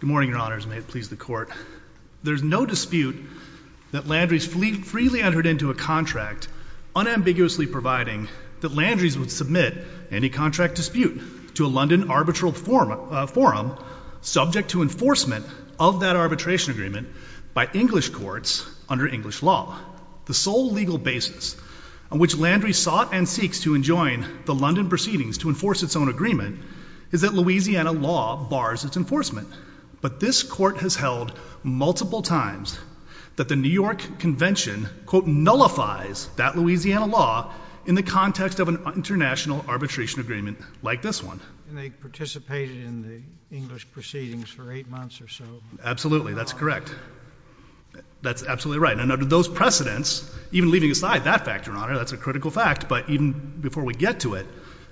Good morning, your honors. May it please the court. There's no dispute that Landry's fleet freely entered into a contract unambiguously providing that Landry's would submit any contract dispute to a London arbitral forum subject to enforcement of that arbitration agreement by English courts under English law. The sole legal basis on which Landry's sought and seeks to enjoin the London proceedings to enforce its own agreement is that Louisiana law bars its enforcement. But this court has held multiple times that the New York Convention quote nullifies that Louisiana law in the context of an international arbitration agreement like this one. And they participated in the English proceedings for eight months or so. Absolutely, that's correct. That's absolutely right. And under those precedents, even leaving aside that factor, your honor, that's a critical fact, but even before we get to it,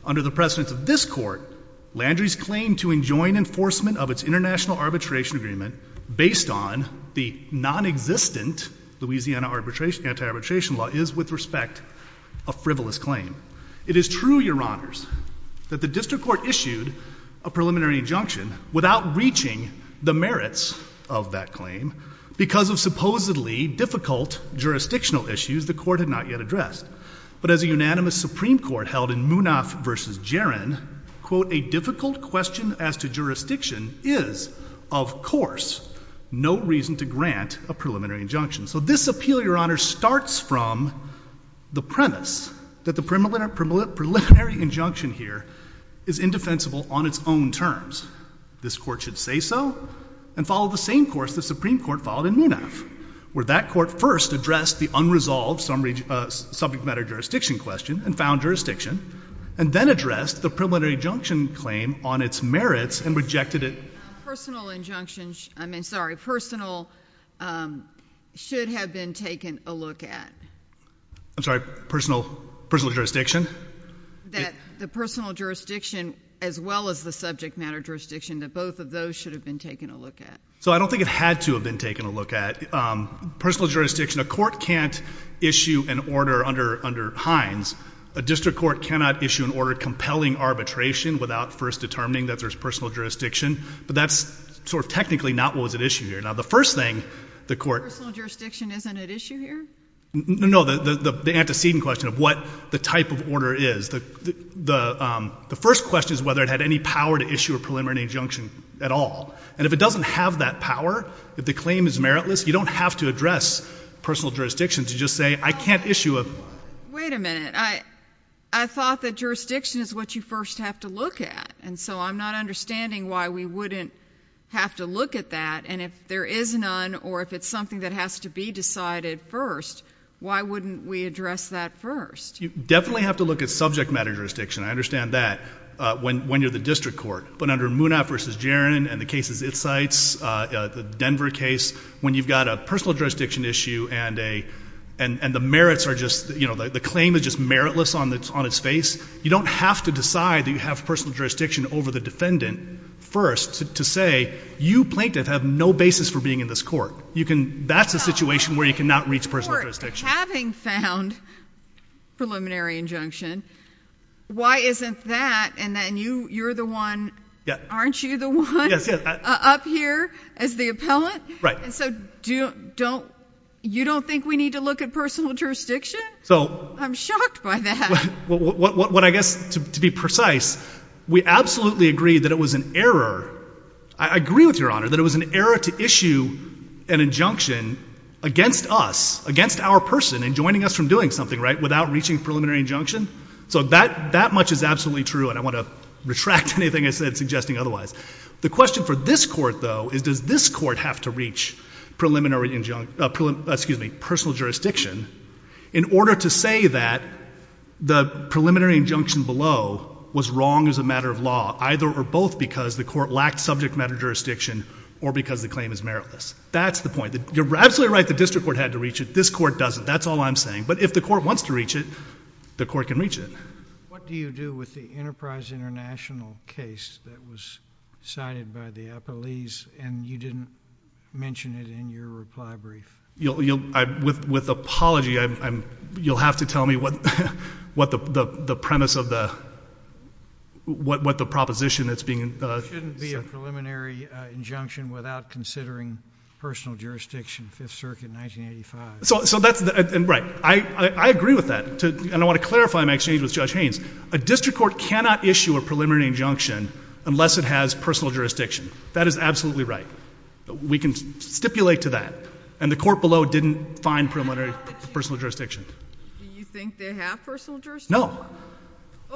under the precedents of this court, Landry's claim to enjoin enforcement of its international arbitration agreement based on the non-existent Louisiana anti-arbitration law is, with respect, a frivolous claim. It is true, your honors, that the district court issued a preliminary injunction without reaching the merits of that claim because of supposedly difficult jurisdictional issues the court had not yet addressed. But as a unanimous Supreme Court held in Munaf versus Jarin, quote, a difficult question as to jurisdiction is, of course, no reason to grant a preliminary injunction. So this appeal, your honor, starts from the premise that the preliminary injunction here is indefensible on its own terms. This court should say so and follow the same course the Supreme Court followed in Munaf, where that court first addressed the unresolved subject matter jurisdiction question and found jurisdiction, and then addressed the preliminary injunction claim on its merits and rejected it. Personal injunctions, I mean, sorry, personal should have been taken a look at. I'm sorry, personal jurisdiction? That the personal jurisdiction as well as the subject matter jurisdiction, that both of those should have been taken a look at. So I don't think it had to have been taken a look at. Personal jurisdiction, a court can't issue an order under Hines. A district court cannot issue an order compelling arbitration without first determining that there's personal jurisdiction. But that's sort of technically not what was at issue here. Now, the first thing the court... Personal jurisdiction isn't at issue here? No, no, no. The antecedent question of what the type of order is. The first question is whether it had any power to issue a preliminary injunction at all. And if it doesn't have that power, if the claim is meritless, you don't have to address personal jurisdiction to just say, I can't issue a... Wait a minute. I thought that jurisdiction is what you first have to look at. And so I'm not understanding why we wouldn't have to look at that. And if there is none, or if it's something that has to be decided first, why wouldn't we address that first? You definitely have to look at subject matter jurisdiction. I understand that when you're the district court. But under Munaf v. Jarin and the cases it cites, the Denver case, when you've got a personal jurisdiction issue and they... And the merits are just... The claim is just meritless on its face. You don't have to decide that you have personal jurisdiction over the defendant first to say, you, plaintiff, have no basis for being in this court. That's a situation where you cannot reach personal jurisdiction. Having found preliminary injunction, why isn't that... And then you're the one... Aren't you the one up here as the appellant? Right. And so you don't think we need to look at personal jurisdiction? I'm shocked by that. What I guess, to be precise, we absolutely agree that it was an error. I agree with Your Honor that it was an error to issue an injunction against us, against our person, in joining us from doing something, right, without reaching preliminary injunction. So that much is absolutely true, and I want to retract anything I said suggesting otherwise. The question for this court, though, is does this court have to reach preliminary... Excuse me, personal jurisdiction in order to say that the preliminary injunction below was wrong as a matter of law, either or both because the court lacked subject matter jurisdiction or because the claim is meritless. That's the point. You're absolutely right the district court had to reach it. This court doesn't. That's all I'm saying. But if the court wants to reach it, the court can reach it. What do you do with the Enterprise International case that was cited by the appellees and you didn't mention it in your reply brief? With apology, you'll have to tell me what the premise of the, what the proposition that's being... It shouldn't be a preliminary injunction without considering personal jurisdiction, Fifth Circuit, 1985. So that's, right, I agree with that, and I want to clarify my exchange with Judge Haynes. A district court cannot issue a preliminary injunction unless it has personal jurisdiction. That is absolutely right. We can stipulate to that, and the court below didn't find preliminary personal jurisdiction. Do you think they have personal jurisdiction? No.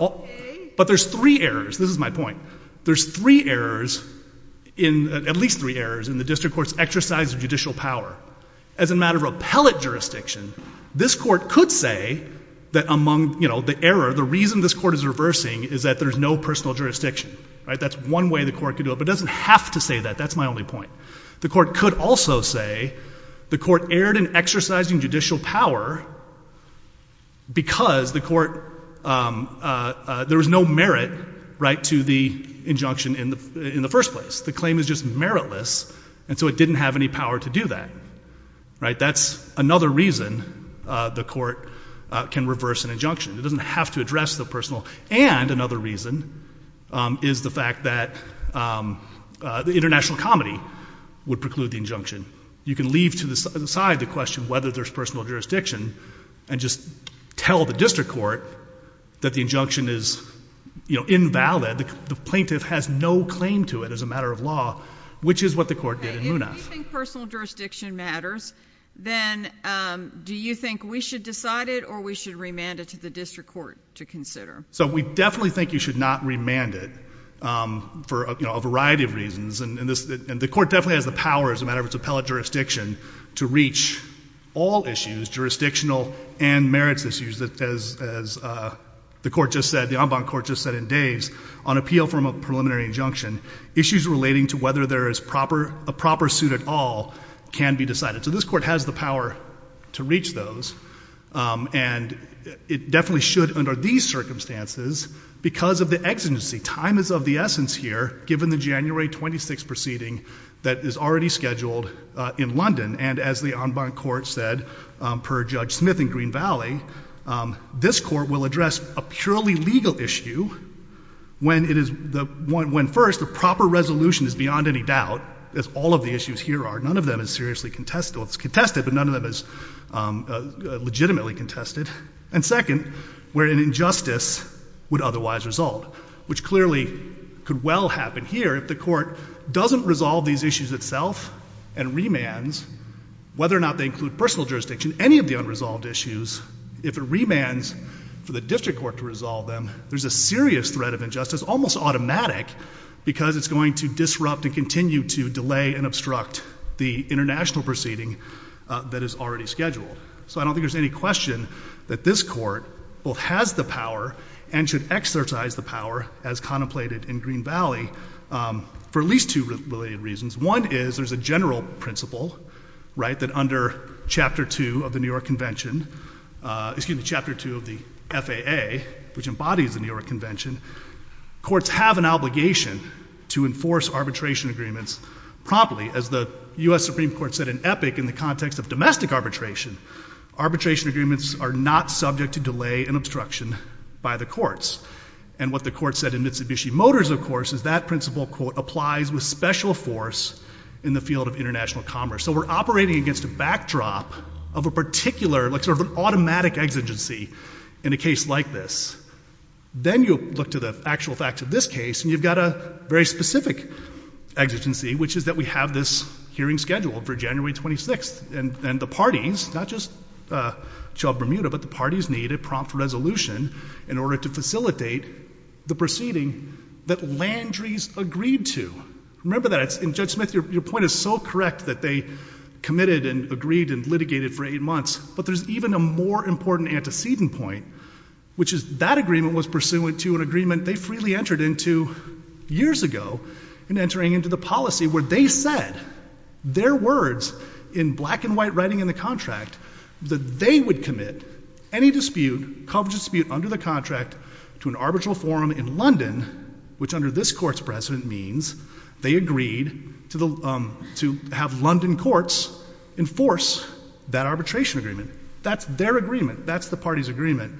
Okay. But there's three errors, this is my point. There's three errors, at least three errors in the district court's exercise of judicial power. As a matter of appellate jurisdiction, this court could say that among, you know, the error, the reason this court is reversing is that there's no personal jurisdiction, right? That's one way the court could do it, but it doesn't have to say that. That's my only point. The court could also say the court erred in exercising judicial power because the court, there was no merit, right, to the injunction in the first place. The claim is meritless, and so it didn't have any power to do that, right? That's another reason the court can reverse an injunction. It doesn't have to address the personal, and another reason is the fact that the international comedy would preclude the injunction. You can leave to the side the question whether there's personal jurisdiction and just tell the district court that the injunction is, you know, invalid. The plaintiff has no claim to it as a matter of law, which is what the court did in Munaf. If you think personal jurisdiction matters, then do you think we should decide it or we should remand it to the district court to consider? So we definitely think you should not remand it for, you know, a variety of reasons, and the court definitely has the power as a matter of appellate jurisdiction to reach all issues, jurisdictional and merits issues that, as the court just said, the en banc court just said in days, on appeal from a preliminary injunction, issues relating to whether there is a proper suit at all can be decided. So this court has the power to reach those, and it definitely should under these circumstances because of the exigency. Time is of the essence here, given the January 26 proceeding that is scheduled in London, and as the en banc court said per Judge Smith in Green Valley, this court will address a purely legal issue when first the proper resolution is beyond any doubt, as all of the issues here are. None of them is seriously contested, but none of them is legitimately contested. And second, where an injustice would otherwise result, which clearly could well happen here if the court doesn't resolve these issues itself and remands, whether or not they include personal jurisdiction, any of the unresolved issues, if it remands for the district court to resolve them, there's a serious threat of injustice, almost automatic, because it's going to disrupt and continue to delay and obstruct the international proceeding that is already scheduled. So I don't think there's any question that this court both has the power and should exercise the power as contemplated in Green Valley, for at least two related reasons. One is there's a general principle, right, that under Chapter 2 of the New York Convention, excuse me, Chapter 2 of the FAA, which embodies the New York Convention, courts have an obligation to enforce arbitration agreements promptly. As the U.S. Supreme Court said in EPIC in the context of domestic arbitration, arbitration agreements are not subject to delay and obstruction by the courts. And what the court said in Mitsubishi Motors, of course, is that principle, quote, applies with special force in the field of international commerce. So we're operating against a backdrop of a particular, like sort of an automatic exigency in a case like this. Then you look to the actual facts of this case and you've got a very specific exigency, which is that we have this hearing scheduled for January 26th. And the parties, not just Chubb-Bermuda, but the parties need a prompt resolution in order to facilitate the proceeding that Landry's agreed to. Remember that, and Judge Smith, your point is so correct that they committed and agreed and litigated for eight months. But there's even a more important antecedent point, which is that agreement was pursuant to an years ago in entering into the policy where they said their words in black and white writing in the contract that they would commit any dispute, coverage dispute, under the contract to an arbitral forum in London, which under this court's precedent means they agreed to have London courts enforce that arbitration agreement. That's their agreement. That's the party's agreement.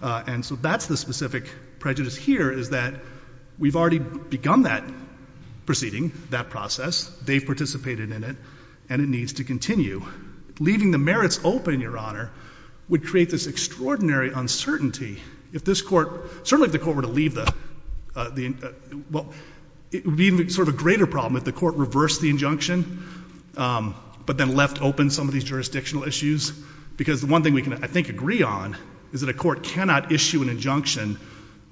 And so that's the specific prejudice here is that we've already begun that proceeding, that process, they've participated in it, and it needs to continue. Leaving the merits open, Your Honor, would create this extraordinary uncertainty if this court, certainly if the court were to leave the, well, it would be sort of a greater problem if the court reversed the injunction, but then left open some of these jurisdictional issues. Because the one thing we can, I think, agree on is that a court cannot issue an injunction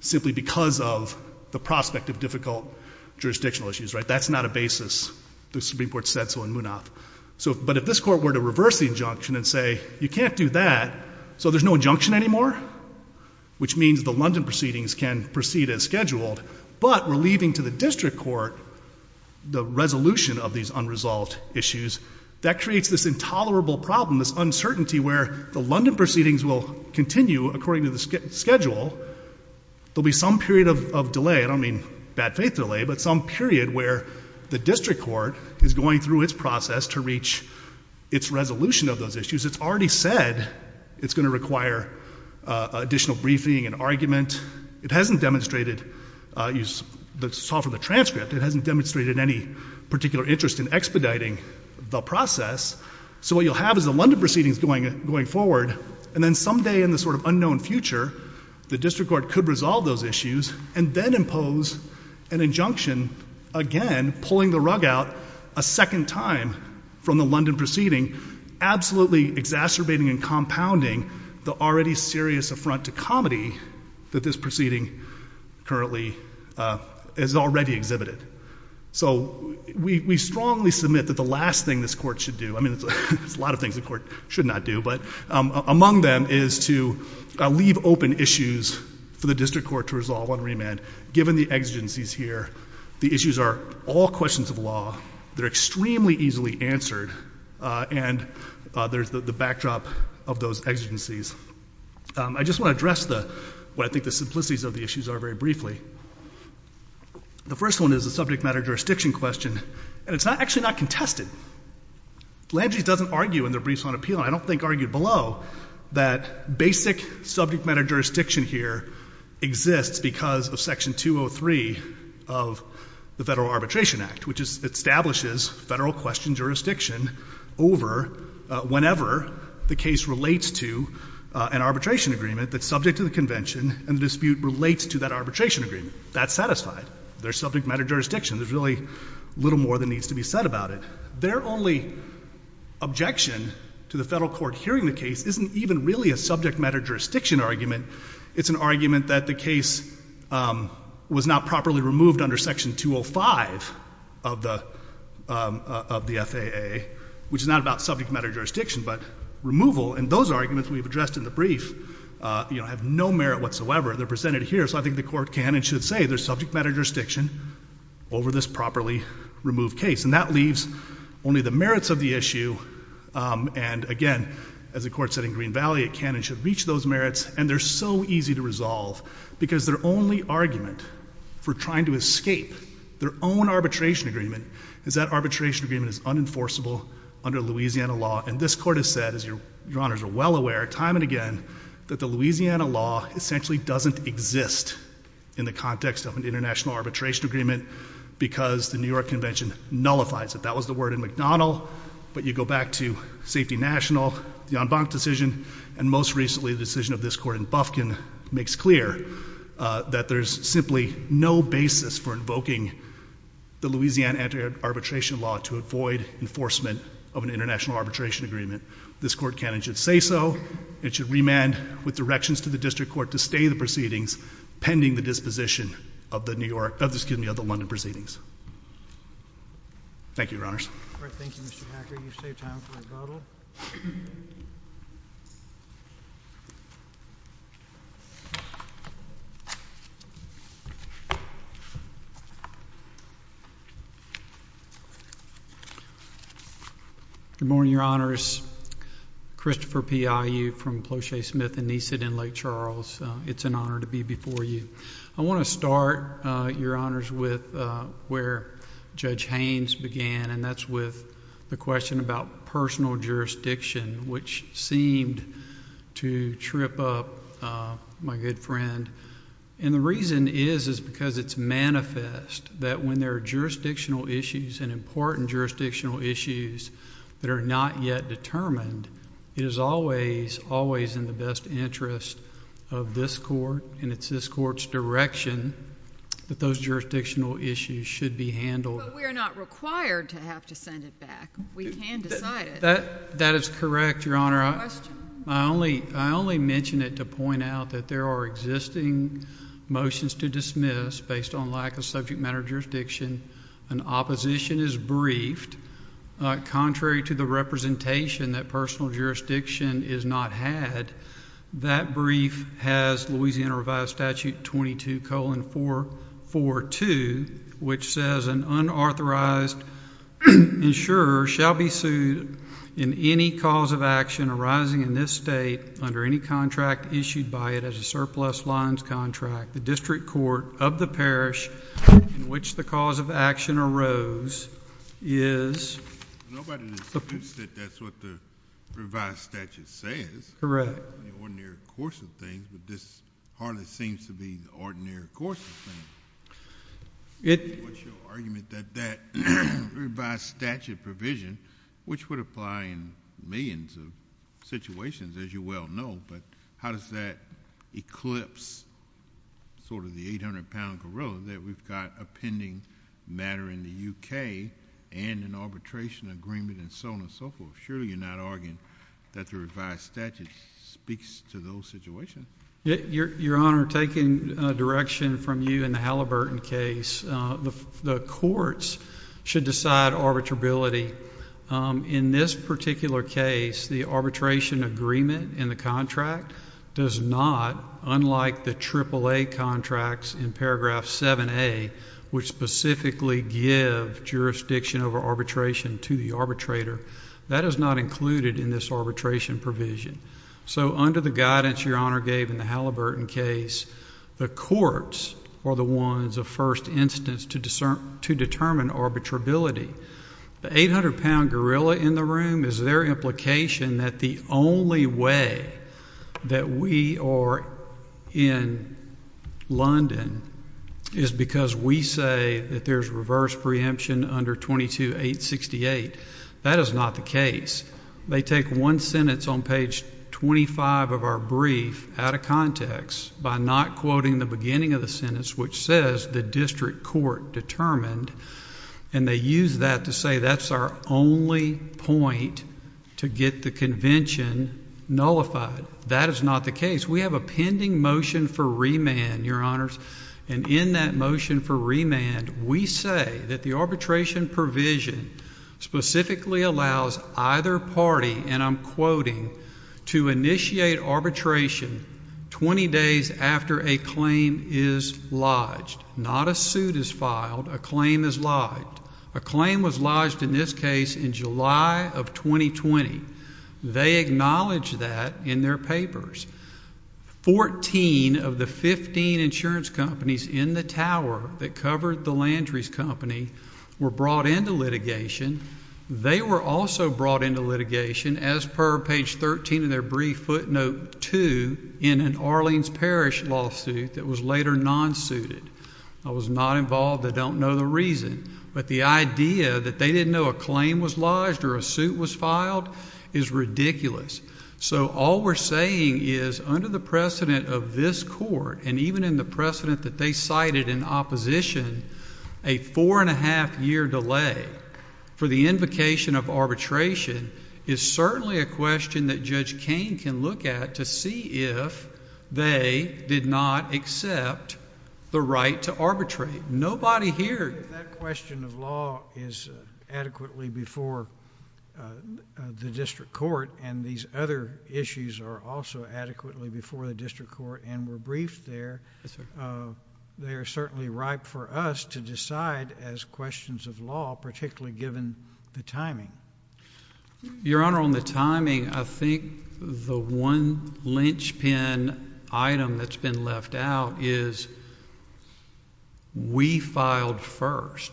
simply because of the prospect of difficult jurisdictional issues, right? That's not a basis. The Supreme Court said so in Munaf. So, but if this court were to reverse the injunction and say, you can't do that, so there's no injunction anymore, which means the London proceedings can proceed as scheduled, but we're leaving to the district court the resolution of these unresolved issues, that creates this intolerable problem, this uncertainty where the London proceedings will continue according to the schedule. There'll be some period of delay. I don't mean bad faith delay, but some period where the district court is going through its process to reach its resolution of those issues. It's already said it's going to require additional briefing and argument. It hasn't demonstrated, you saw from the transcript, it hasn't demonstrated any particular interest in expediting the process. So what you'll have is the London proceedings going forward, and then someday in the sort of unknown future, the district court could resolve those issues and then impose an injunction, again, pulling the rug out a second time from the London proceeding, absolutely exacerbating and compounding the already serious affront to comedy that this proceeding currently has already exhibited. So we strongly submit that the last thing this court should do, I mean there's a lot of things the court should not do, but among them is to leave open issues for the district court to resolve on remand, given the exigencies here, the issues are all questions of law, they're extremely easily answered, and there's the backdrop of those exigencies. I just want to address what I think the simplicities of the issues are very briefly. The first one is the subject matter jurisdiction question, and it's actually not contested. Landry's doesn't argue in their briefs on appeal, and I don't think argued below, that basic subject matter jurisdiction here exists because of section 203 of the Federal Arbitration Act, which establishes federal question jurisdiction over whenever the case relates to an arbitration agreement that's subject to the convention, and the dispute relates to that arbitration agreement. That's satisfied. There's subject matter jurisdiction, there's really little more that needs to be said about it. Their only objection to the federal court hearing the case isn't even really a subject matter jurisdiction argument, it's an argument that the case was not properly removed under section 205 of the FAA, which is not about subject matter jurisdiction, but removal, and those arguments we've addressed in the brief, you know, have no merit whatsoever. They're presented here, so I think the court can and should say there's subject matter jurisdiction over this properly removed case, and that leaves only the merits of the issue, and again, as the court said in Green Valley, it can and should reach those merits, and they're so easy to resolve because their only argument for trying to escape their own arbitration agreement is that arbitration agreement is unenforceable under Louisiana law, and this court has said, as your honors are well aware, time and again, that the Louisiana law essentially doesn't exist in the context of an international arbitration agreement because the New York Convention nullifies it. That was the word in McDonnell, but you go back to Safety National, the en banc decision, and most recently the decision of this court in Bufkin makes clear that there's simply no basis for invoking the Louisiana anti-arbitration law to avoid enforcement of an international arbitration agreement. This court can and should say so, it should remand with directions to the district court to stay the proceedings pending the disposition of the London proceedings. Thank you, your honors. All right, thank you, Mr. Hacker. You've saved time for rebuttal. Good morning, your honors. Christopher P. I. U. from Ploche Smith and Neasett in Lake Charles. It's an honor to be before you. I want to start, your honors, with where Judge Haynes began, and that's with the question about personal jurisdiction, which seemed to trip up, my good friend. And the reason is, is because it's manifest that when there are jurisdictional issues and important jurisdictional issues that are not yet determined, it is always, always in the best interest of this court, and it's this court's direction that those jurisdictional issues should be handled. But we're not required to have to send it back. We can decide it. That, that is correct, your honor. I only, I only mentioned it to point out that there are existing motions to dismiss based on lack of subject matter jurisdiction. An opposition is briefed, contrary to the representation that personal jurisdiction is not had. That brief has Louisiana Revised Statute 22-442, which says an unauthorized insurer shall be sued in any cause of action arising in this state under any contract issued by it as a surplus lines contract. The district court of the parish in which the cause of action arose is. Nobody disputes that that's what the revised statute says. Correct. The ordinary course of things, but this hardly seems to be the ordinary course of things. It, what's your argument that that revised statute provision, which would apply in millions of situations, as you well know, but how does that eclipse sort of the 800-pound gorilla that we've got a pending matter in the UK and an arbitration agreement and so on and so forth? Surely you're not arguing that the revised statute speaks to those situations. Your honor, taking direction from you in the Halliburton case, the courts should decide arbitrability. In this particular case, the arbitration agreement in the contract does not, unlike the AAA contracts in paragraph 7A, which specifically give jurisdiction over arbitration to the arbitrator, that is not included in this arbitration provision. So under the guidance your honor gave in the Halliburton case, the courts are the ones of first instance to determine arbitrability. The 800-pound gorilla in the room is their implication that the only way that we are in London is because we say that there's reverse preemption under 22-868. That is not the case. They take one sentence on page 25 of our brief out of context by not quoting the beginning of the sentence which says the district court determined, and they use that to say that's our only point to get the convention nullified. That is not the case. We have a pending motion for remand, your honors, and in that motion for remand, we say that the arbitration provision specifically allows either party, and I'm quoting, to initiate arbitration 20 days after a claim is lodged. Not a suit is filed. A claim is lodged. A claim was lodged in this case in July of 2020. They acknowledge that in their papers. 14 of the 15 insurance companies in the tower that covered the Landry's company were brought into litigation. They were also brought into litigation as per page 13 of their brief footnote 2 in an Arlene's Parish lawsuit that was later non-suited. I was not involved. I don't know the reason, but the idea that they didn't know a claim was lodged or a suit was filed is ridiculous. So all we're saying is under the precedent of this court and even in the precedent that they cited in opposition, a four and a half year delay for the invocation of arbitration is certainly a question that Judge Kane can look at to see if they did not accept the right to arbitrate. Nobody here. That question of law is adequately before the district court and these other issues are also adequately before the district court and we're briefed there. They are certainly ripe for us to decide as questions of law, particularly given the timing. Your Honor, on the timing, I think the one linchpin item that's been left out is we filed first.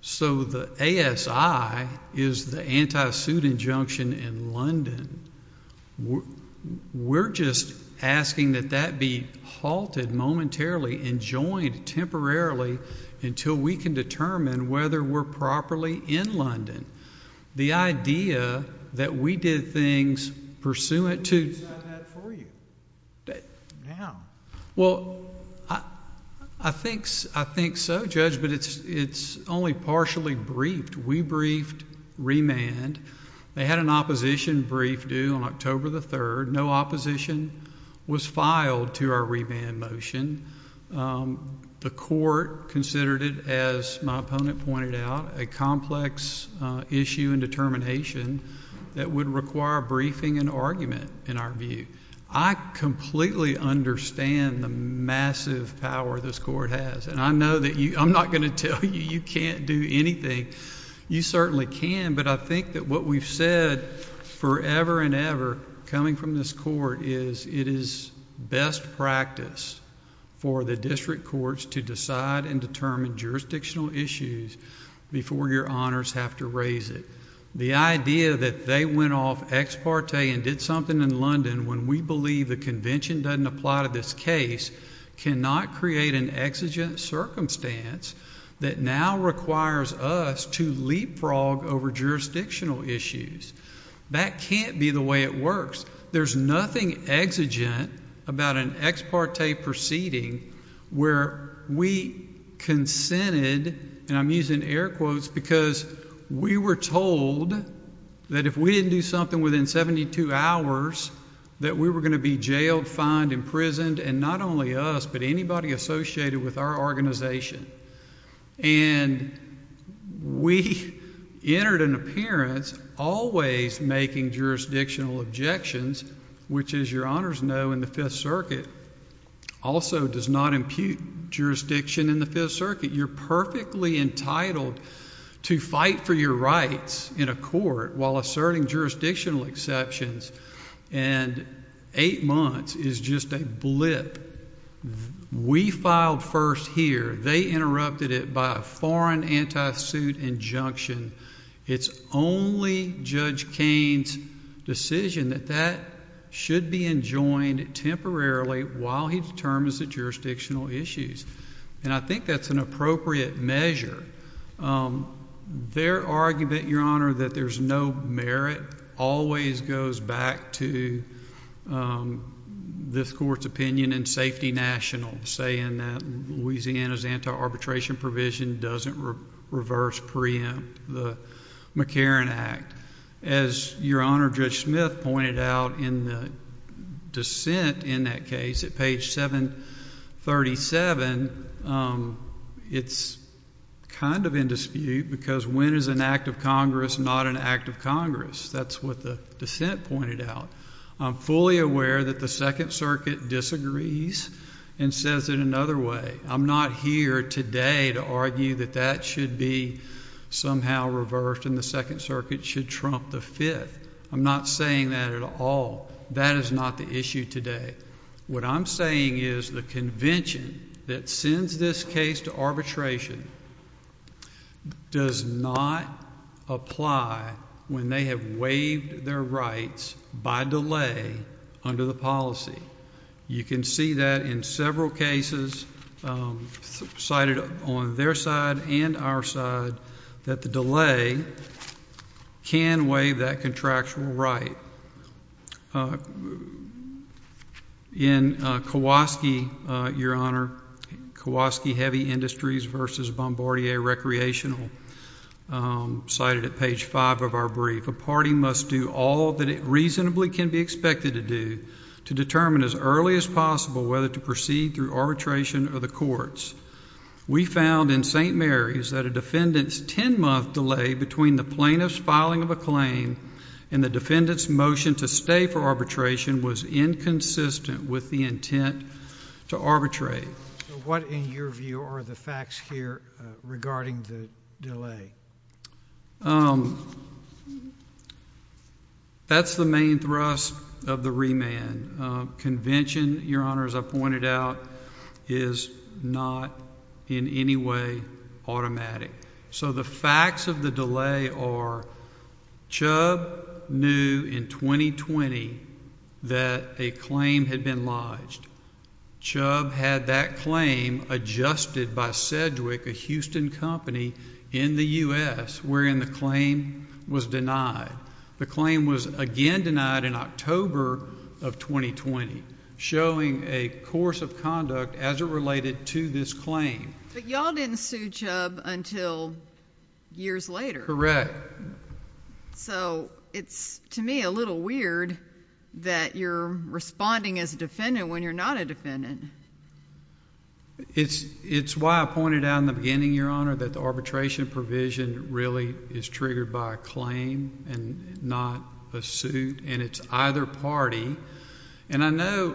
So the A. S. I. Is the anti suit injunction in London. We're just asking that that be halted momentarily and joined temporarily until we can determine whether we're properly in London. The idea that we did things pursuant to well, I think I think so, Judge, but it's it's only partially briefed. We briefed They had an opposition brief due on October the third. No opposition was filed to our remand motion. The court considered it, as my opponent pointed out, a complex issue and determination that would require briefing and argument in our view. I completely understand the massive power this court has, and I know that I'm not going to tell you you can't do anything. You certainly can. But I think that what we've said forever and ever coming from this court is it is best practice for the district courts to decide and determine jurisdictional issues before your honors have to raise it. The idea that they went off ex parte and did something in London when we believe the convention doesn't apply to this case cannot create an exigent circumstance that now requires us to leapfrog over jurisdictional issues. That can't be the way it works. There's nothing exigent about an ex parte proceeding where we consented, and I'm using air quotes because we were told that if we didn't do something within 72 hours that we were going to be jailed, fined, imprisoned. And not only us, but anybody associated with our organization. And we entered an appearance always making jurisdictional objections, which as your honors know in the Fifth Circuit also does not impute jurisdiction in the Fifth Circuit. You're perfectly entitled to fight for your rights in a court while asserting jurisdictional exceptions. And eight months is just a blip. We filed first here. They interrupted it by a foreign anti-suit injunction. It's only Judge Kane's decision that that should be enjoined temporarily while he determines the jurisdictional issues. And I think that's an appropriate measure. Their argument, your honor, that there's no merit always goes back to this court's opinion in Safety National saying that Louisiana's anti-arbitration provision doesn't reverse preempt the McCarran Act. As your honor Judge Smith pointed out in the dissent in that case at page 737, it's kind of in dispute because when is an act of Congress not an act of Congress? That's what the dissent pointed out. I'm fully aware that the Second Circuit disagrees and says it another way. I'm not here today to argue that that should be somehow reversed and the Second Circuit should trump the Fifth. I'm not saying that at all. That is not the issue today. What I'm saying is the convention that sends this case to arbitration does not apply when they have waived their rights by delay under the policy. You can see that in several cases cited on their side and our side that the delay can waive that contractual right. In Kowalski, your honor, Kowalski Heavy Industries versus Bombardier Recreational, cited at page 5 of our brief, a party must do all that it reasonably can be expected to do to determine as early as possible whether to proceed through arbitration or the courts. We found in St. Mary's that a defendant's 10-month delay between the plaintiff's filing of a claim and the defendant's motion to stay for arbitration was inconsistent with the intent to arbitrate. What, in your view, are the facts here regarding the delay? That's the main thrust of the remand. Convention, your honor, as I pointed out, is not in any way automatic. So the facts of the delay are, Chubb knew in 2020 that a claim had been lodged. Chubb had that claim adjusted by Sedgwick, a Houston company in the U.S., wherein the claim was denied. The claim was again denied in October of 2020, showing a course of conduct as it related to this claim. But y'all didn't sue Chubb until years later. Correct. So it's, to me, a little weird that you're responding as a defendant when you're not a defendant. It's why I pointed out in the beginning, your honor, that the arbitration provision really is triggered by a claim and not a suit, and it's either party. And I know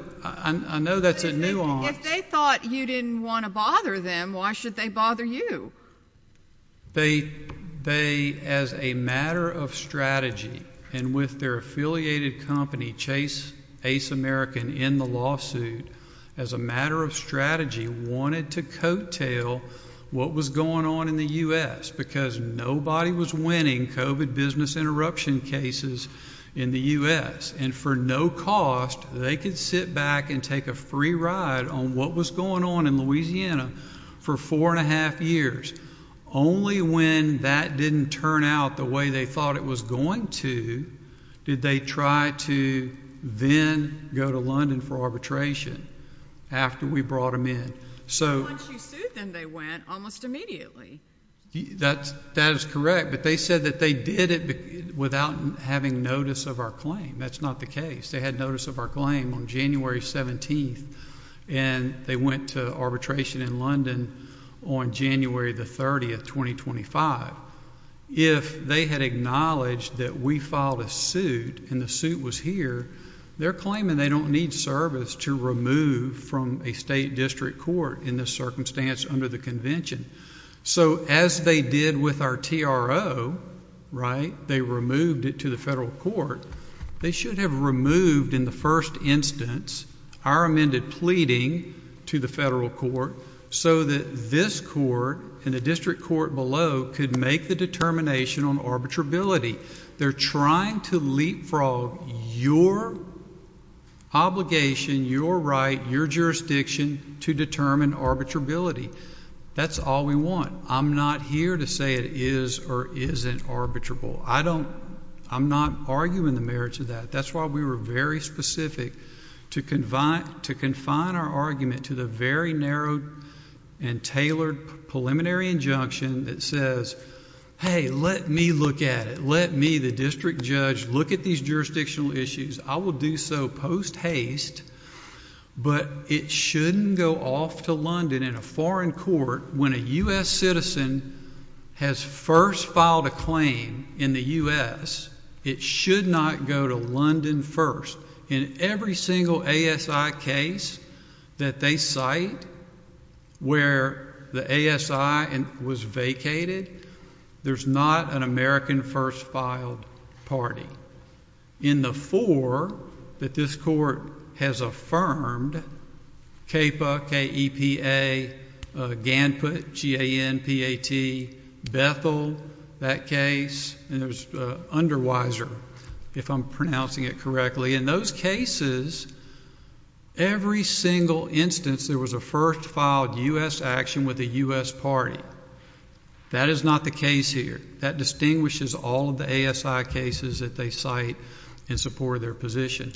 that's a nuance. If they thought you didn't want to bother them, why should they bother you? They, as a matter of strategy, and with their affiliated company, Chase Ace American, in the lawsuit, as a matter of strategy, wanted to coattail what was going on in the U.S. because nobody was winning COVID business interruption cases in the U.S. And for no cost, they could sit back and take a free ride on what was going on in Louisiana for four and a half years. Only when that didn't turn out the way they thought it was going to, did they try to then go to London for arbitration after we brought them in. So once you sued them, they went almost immediately. That is correct, but they said that they did it without having notice of our claim. That's not the case. They had notice of our claim on January 17th, and they went to arbitration in London on January the 30th, 2025. If they had acknowledged that we filed a suit and the suit was here, they're claiming they don't need service to remove from a state district court in this circumstance under the convention. So as they did with our TRO, right, they removed it to the federal court. They should have removed in the first instance our amended pleading to the federal court so that this court and the district court below could make the determination on arbitrability. They're trying to leapfrog your obligation, your right, your jurisdiction to determine arbitrability. That's all we want. I'm not here to say it is or isn't arbitrable. I'm not arguing the merits of that. That's why we were very specific to confine our argument to the very narrow and tailored preliminary injunction that says, hey, let me look at it. Let me, the district judge, look at these jurisdictional issues. I will do so post haste, but it shouldn't go off to London in a foreign court when a U.S. citizen has first filed a claim in the U.S. It should not go to London first. In every single ASI case that they cite where the ASI was vacated, there's not an American first filed party. In the four that this court has affirmed, CAPA, K-E-P-A, GANPAT, Bethel, that case, and there's Underweiser, if I'm pronouncing it correctly. In those cases, every single instance there was a first filed U.S. action with a U.S. party. That is not the case here. That distinguishes all of the ASI cases that they cite in support of their position.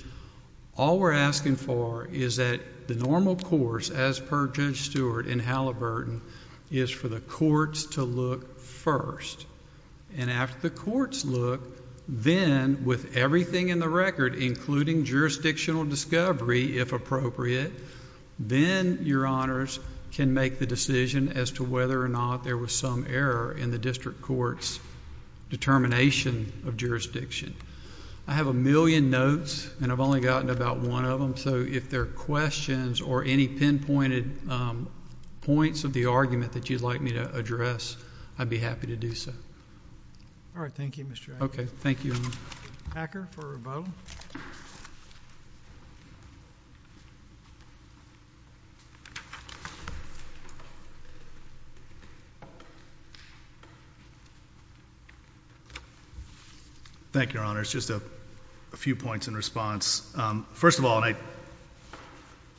All we're asking for is that the normal course, as per Judge Stewart in Halliburton, is for the courts to look first. And after the courts look, then with everything in the record, including jurisdictional discovery, if appropriate, then your honors can make the decision as to whether or not there was some error in the district court's determination of jurisdiction. I have a million notes, and I've gotten about one of them, so if there are questions or any pinpointed points of the argument that you'd like me to address, I'd be happy to do so. All right. Thank you, Mr. Acker. Okay. Thank you. Acker for a rebuttal. Thank you, your honors. Just a few points in response. First of all, I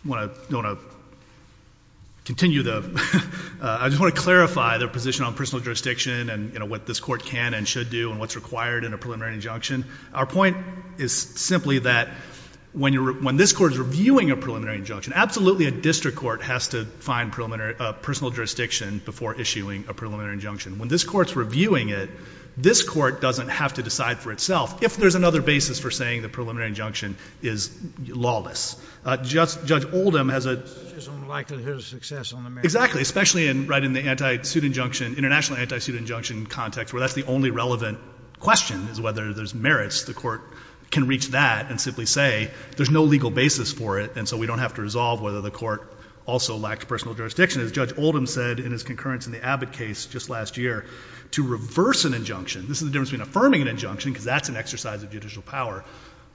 want to continue the I just want to clarify their position on personal jurisdiction and what this court can and should do and what's required in a preliminary injunction. Our point is simply that when this court is reviewing a preliminary injunction, absolutely a district court has to find personal jurisdiction before issuing a preliminary injunction. When this court's reviewing it, this court doesn't have to decide for itself if there's another basis for saying the preliminary injunction is lawless. Judge Oldham has a... There's a likelihood of success on the merits... Exactly. Especially right in the international anti-suit injunction context, where that's the only relevant question, is whether there's merits. The court can reach that and simply say there's no legal basis for it, and so we don't have to resolve whether the court also lacked personal jurisdiction. As Judge Oldham said in his concurrence in the Abbott case just last year, to reverse an injunction, this is the difference between affirming an injunction, because that's an exercise of judicial power,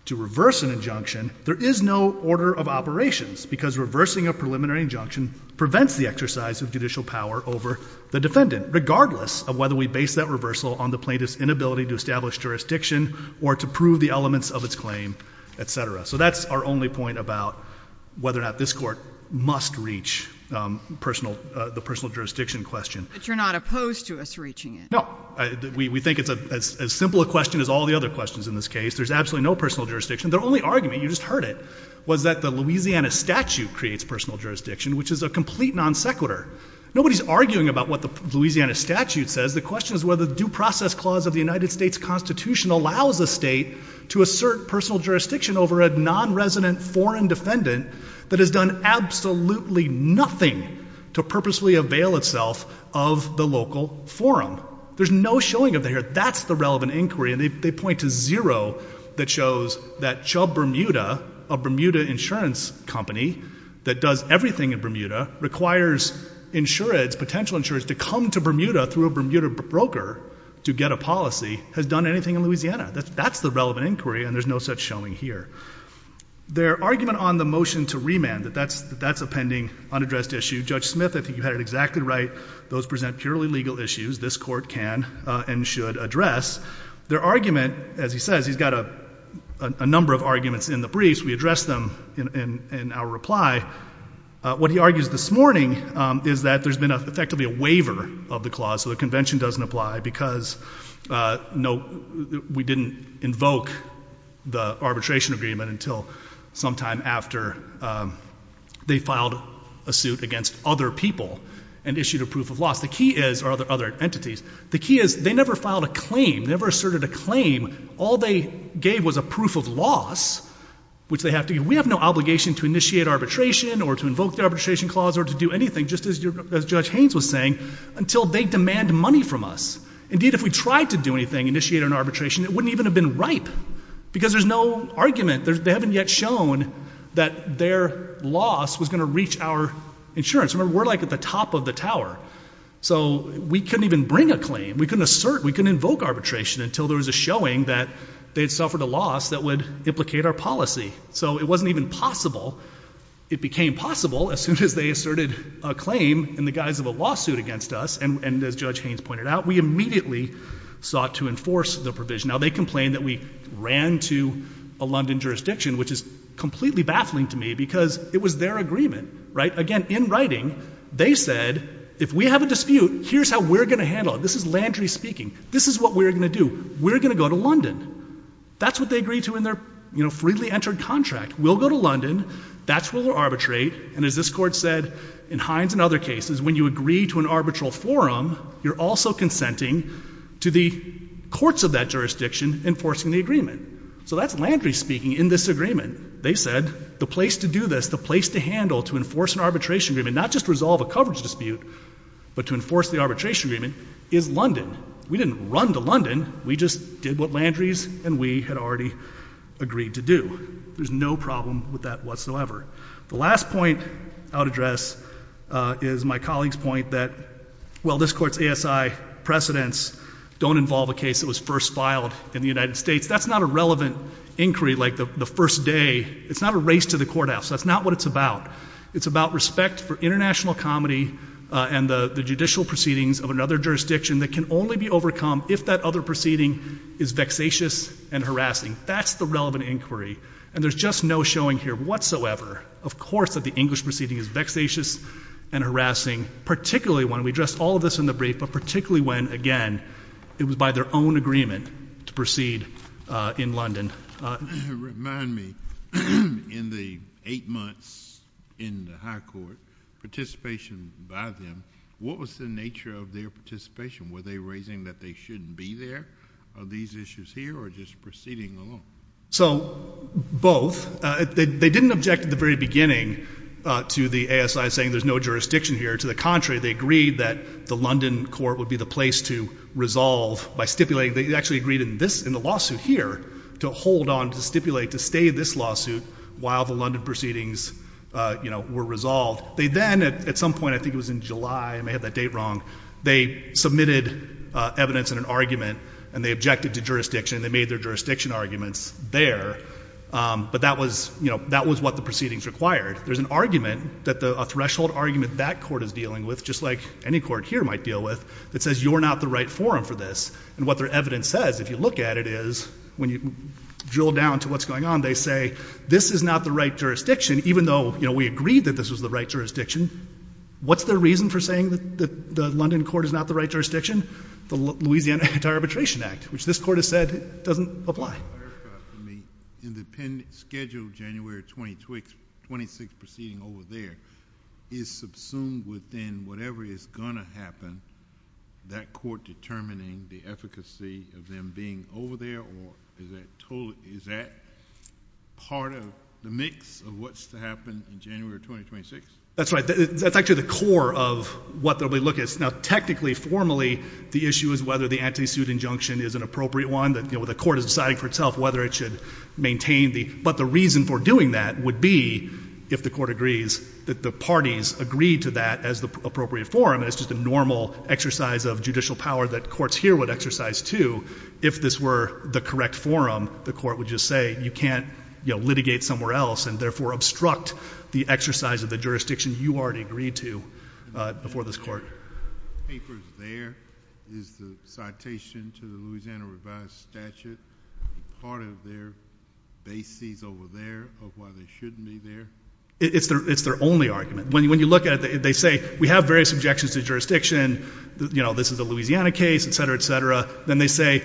to reverse an injunction, there is no order of operations, because reversing a preliminary injunction prevents the exercise of judicial power over the defendant, regardless of whether we base that reversal on the plaintiff's inability to establish jurisdiction or to prove the elements of its claim, etc. So that's our only point about whether or not this court must reach the personal jurisdiction question. But you're not opposed to us reaching it. No. We think it's as simple a question as all the other questions in this case. There's absolutely no personal jurisdiction. Their only argument, you just heard it, was that the Louisiana statute creates personal jurisdiction, which is a complete non-sequitur. Nobody's arguing about what the Louisiana statute says. The question is whether the due process clause of the United States Constitution allows a state to assert personal jurisdiction over a non-resident foreign defendant that has done absolutely nothing to purposefully avail itself of the local forum. There's no showing of that here. That's the relevant inquiry, and they point to zero that shows that Chubb-Bermuda, a Bermuda insurance company that does everything in Bermuda, requires insurance, potential insurance, to come to Bermuda through a Bermuda broker to get a policy, has done anything in Louisiana. That's the relevant inquiry, and there's no such showing here. Their argument on the motion to remand, that that's a pending unaddressed issue, Judge Smith, I think you had it exactly right, those present purely legal issues this court can and should address. Their argument, as he says, he's got a number of arguments in the briefs. We address them in our reply. What he argues this morning is that there's been effectively a waiver of the clause, so the convention doesn't apply because we didn't invoke the arbitration agreement until sometime after they filed a suit against other people and issued a proof of loss. The key is, or other entities, the key is they never filed a claim, never asserted a claim. All they gave was a proof of loss, which they have to give. We have no obligation to initiate arbitration or to invoke the arbitration clause or to do anything, just as Judge Haynes was saying, until they demand money from us. Indeed, if we tried to do anything, initiate an arbitration, it wouldn't even have been ripe because there's no argument. They haven't yet shown that their loss was going to reach our insurance. Remember, we're like at the top of the So we couldn't even bring a claim. We couldn't assert, we couldn't invoke arbitration until there was a showing that they'd suffered a loss that would implicate our policy. So it wasn't even possible. It became possible as soon as they asserted a claim in the guise of a lawsuit against us, and as Judge Haynes pointed out, we immediately sought to enforce the provision. Now, they complained that we ran to a London jurisdiction, which is completely baffling to me because it was agreement, right? Again, in writing, they said, if we have a dispute, here's how we're going to handle it. This is Landry speaking. This is what we're going to do. We're going to go to London. That's what they agreed to in their, you know, freely entered contract. We'll go to London. That's where we'll arbitrate. And as this Court said, in Haynes and other cases, when you agree to an arbitral forum, you're also consenting to the courts of that jurisdiction enforcing the agreement. So that's Landry speaking in this agreement. They said, the place to do this, the place to handle, to enforce an arbitration agreement, not just resolve a coverage dispute, but to enforce the arbitration agreement, is London. We didn't run to London. We just did what Landry's and we had already agreed to do. There's no problem with that whatsoever. The last point I'll address is my colleague's point that, well, this Court's ASI precedents don't involve a case that was first filed in the United States. That's not a relevant inquiry, like the first day. It's not a race to the courthouse. That's not what it's about. It's about respect for international comedy and the judicial proceedings of another jurisdiction that can only be overcome if that other proceeding is vexatious and harassing. That's the relevant inquiry. And there's just no showing here whatsoever, of course, that the English proceeding is vexatious and harassing, particularly when we addressed all of this in the brief, but particularly when, again, it was by their own agreement to proceed in London. Remind me, in the eight months in the High Court, participation by them, what was the nature of their participation? Were they raising that they shouldn't be there on these issues here or just proceeding along? So, both. They didn't object at the very beginning to the ASI saying there's jurisdiction here. To the contrary, they agreed that the London court would be the place to resolve by stipulating. They actually agreed in the lawsuit here to hold on, to stipulate, to stay in this lawsuit while the London proceedings were resolved. They then, at some point, I think it was in July, I may have that date wrong, they submitted evidence in an argument and they objected to jurisdiction. They made their jurisdiction arguments there, but that was what the proceedings required. There's an argument, a threshold argument that court is dealing with, just like any court here might deal with, that says you're not the right forum for this. And what their evidence says, if you look at it, is when you drill down to what's going on, they say this is not the right jurisdiction, even though we agreed that this was the right jurisdiction. What's the reason for saying that the London court is not the right jurisdiction? The Louisiana Anti-Arbitration Act, which this court has said doesn't apply. In the scheduled January 26th proceeding over there, is subsumed within whatever is going to happen, that court determining the efficacy of them being over there, or is that part of the mix of what's to happen in January 2026? That's right. That's actually the core of what they'll be looking at. Now, technically, formally, the issue is whether the anti-suit injunction is an appropriate one, that the court is deciding for itself whether it should maintain the... But the reason for doing that would be, if the court agrees, that the parties agree to that as the appropriate forum, and it's just a normal exercise of judicial power that courts here would exercise too. If this were the correct forum, the court would just say, you can't litigate somewhere else, and therefore obstruct the exercise of the jurisdiction you already agreed to before this court. The papers there, is the citation to the Louisiana revised statute part of their bases over there of why they shouldn't be there? It's their only argument. When you look at it, they say, we have various objections to jurisdiction. This is a Louisiana case, et cetera, et cetera. Then they say,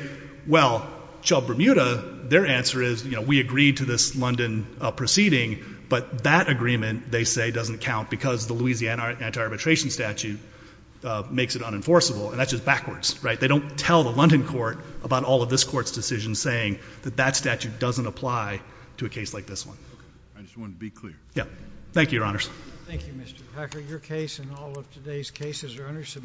well, Chubb-Bermuda, their answer is, we agreed to this London proceeding, but that agreement, they say, doesn't count because the Louisiana anti-arbitration statute makes it unenforceable, and that's just backwards. They don't tell the London court about all of this court's decisions saying that that statute doesn't apply to a case like this one. Okay. I just wanted to be clear. Yeah. Thank you, Your Honors. Thank you, Mr. Packer. Your case and all of today's cases are under submission.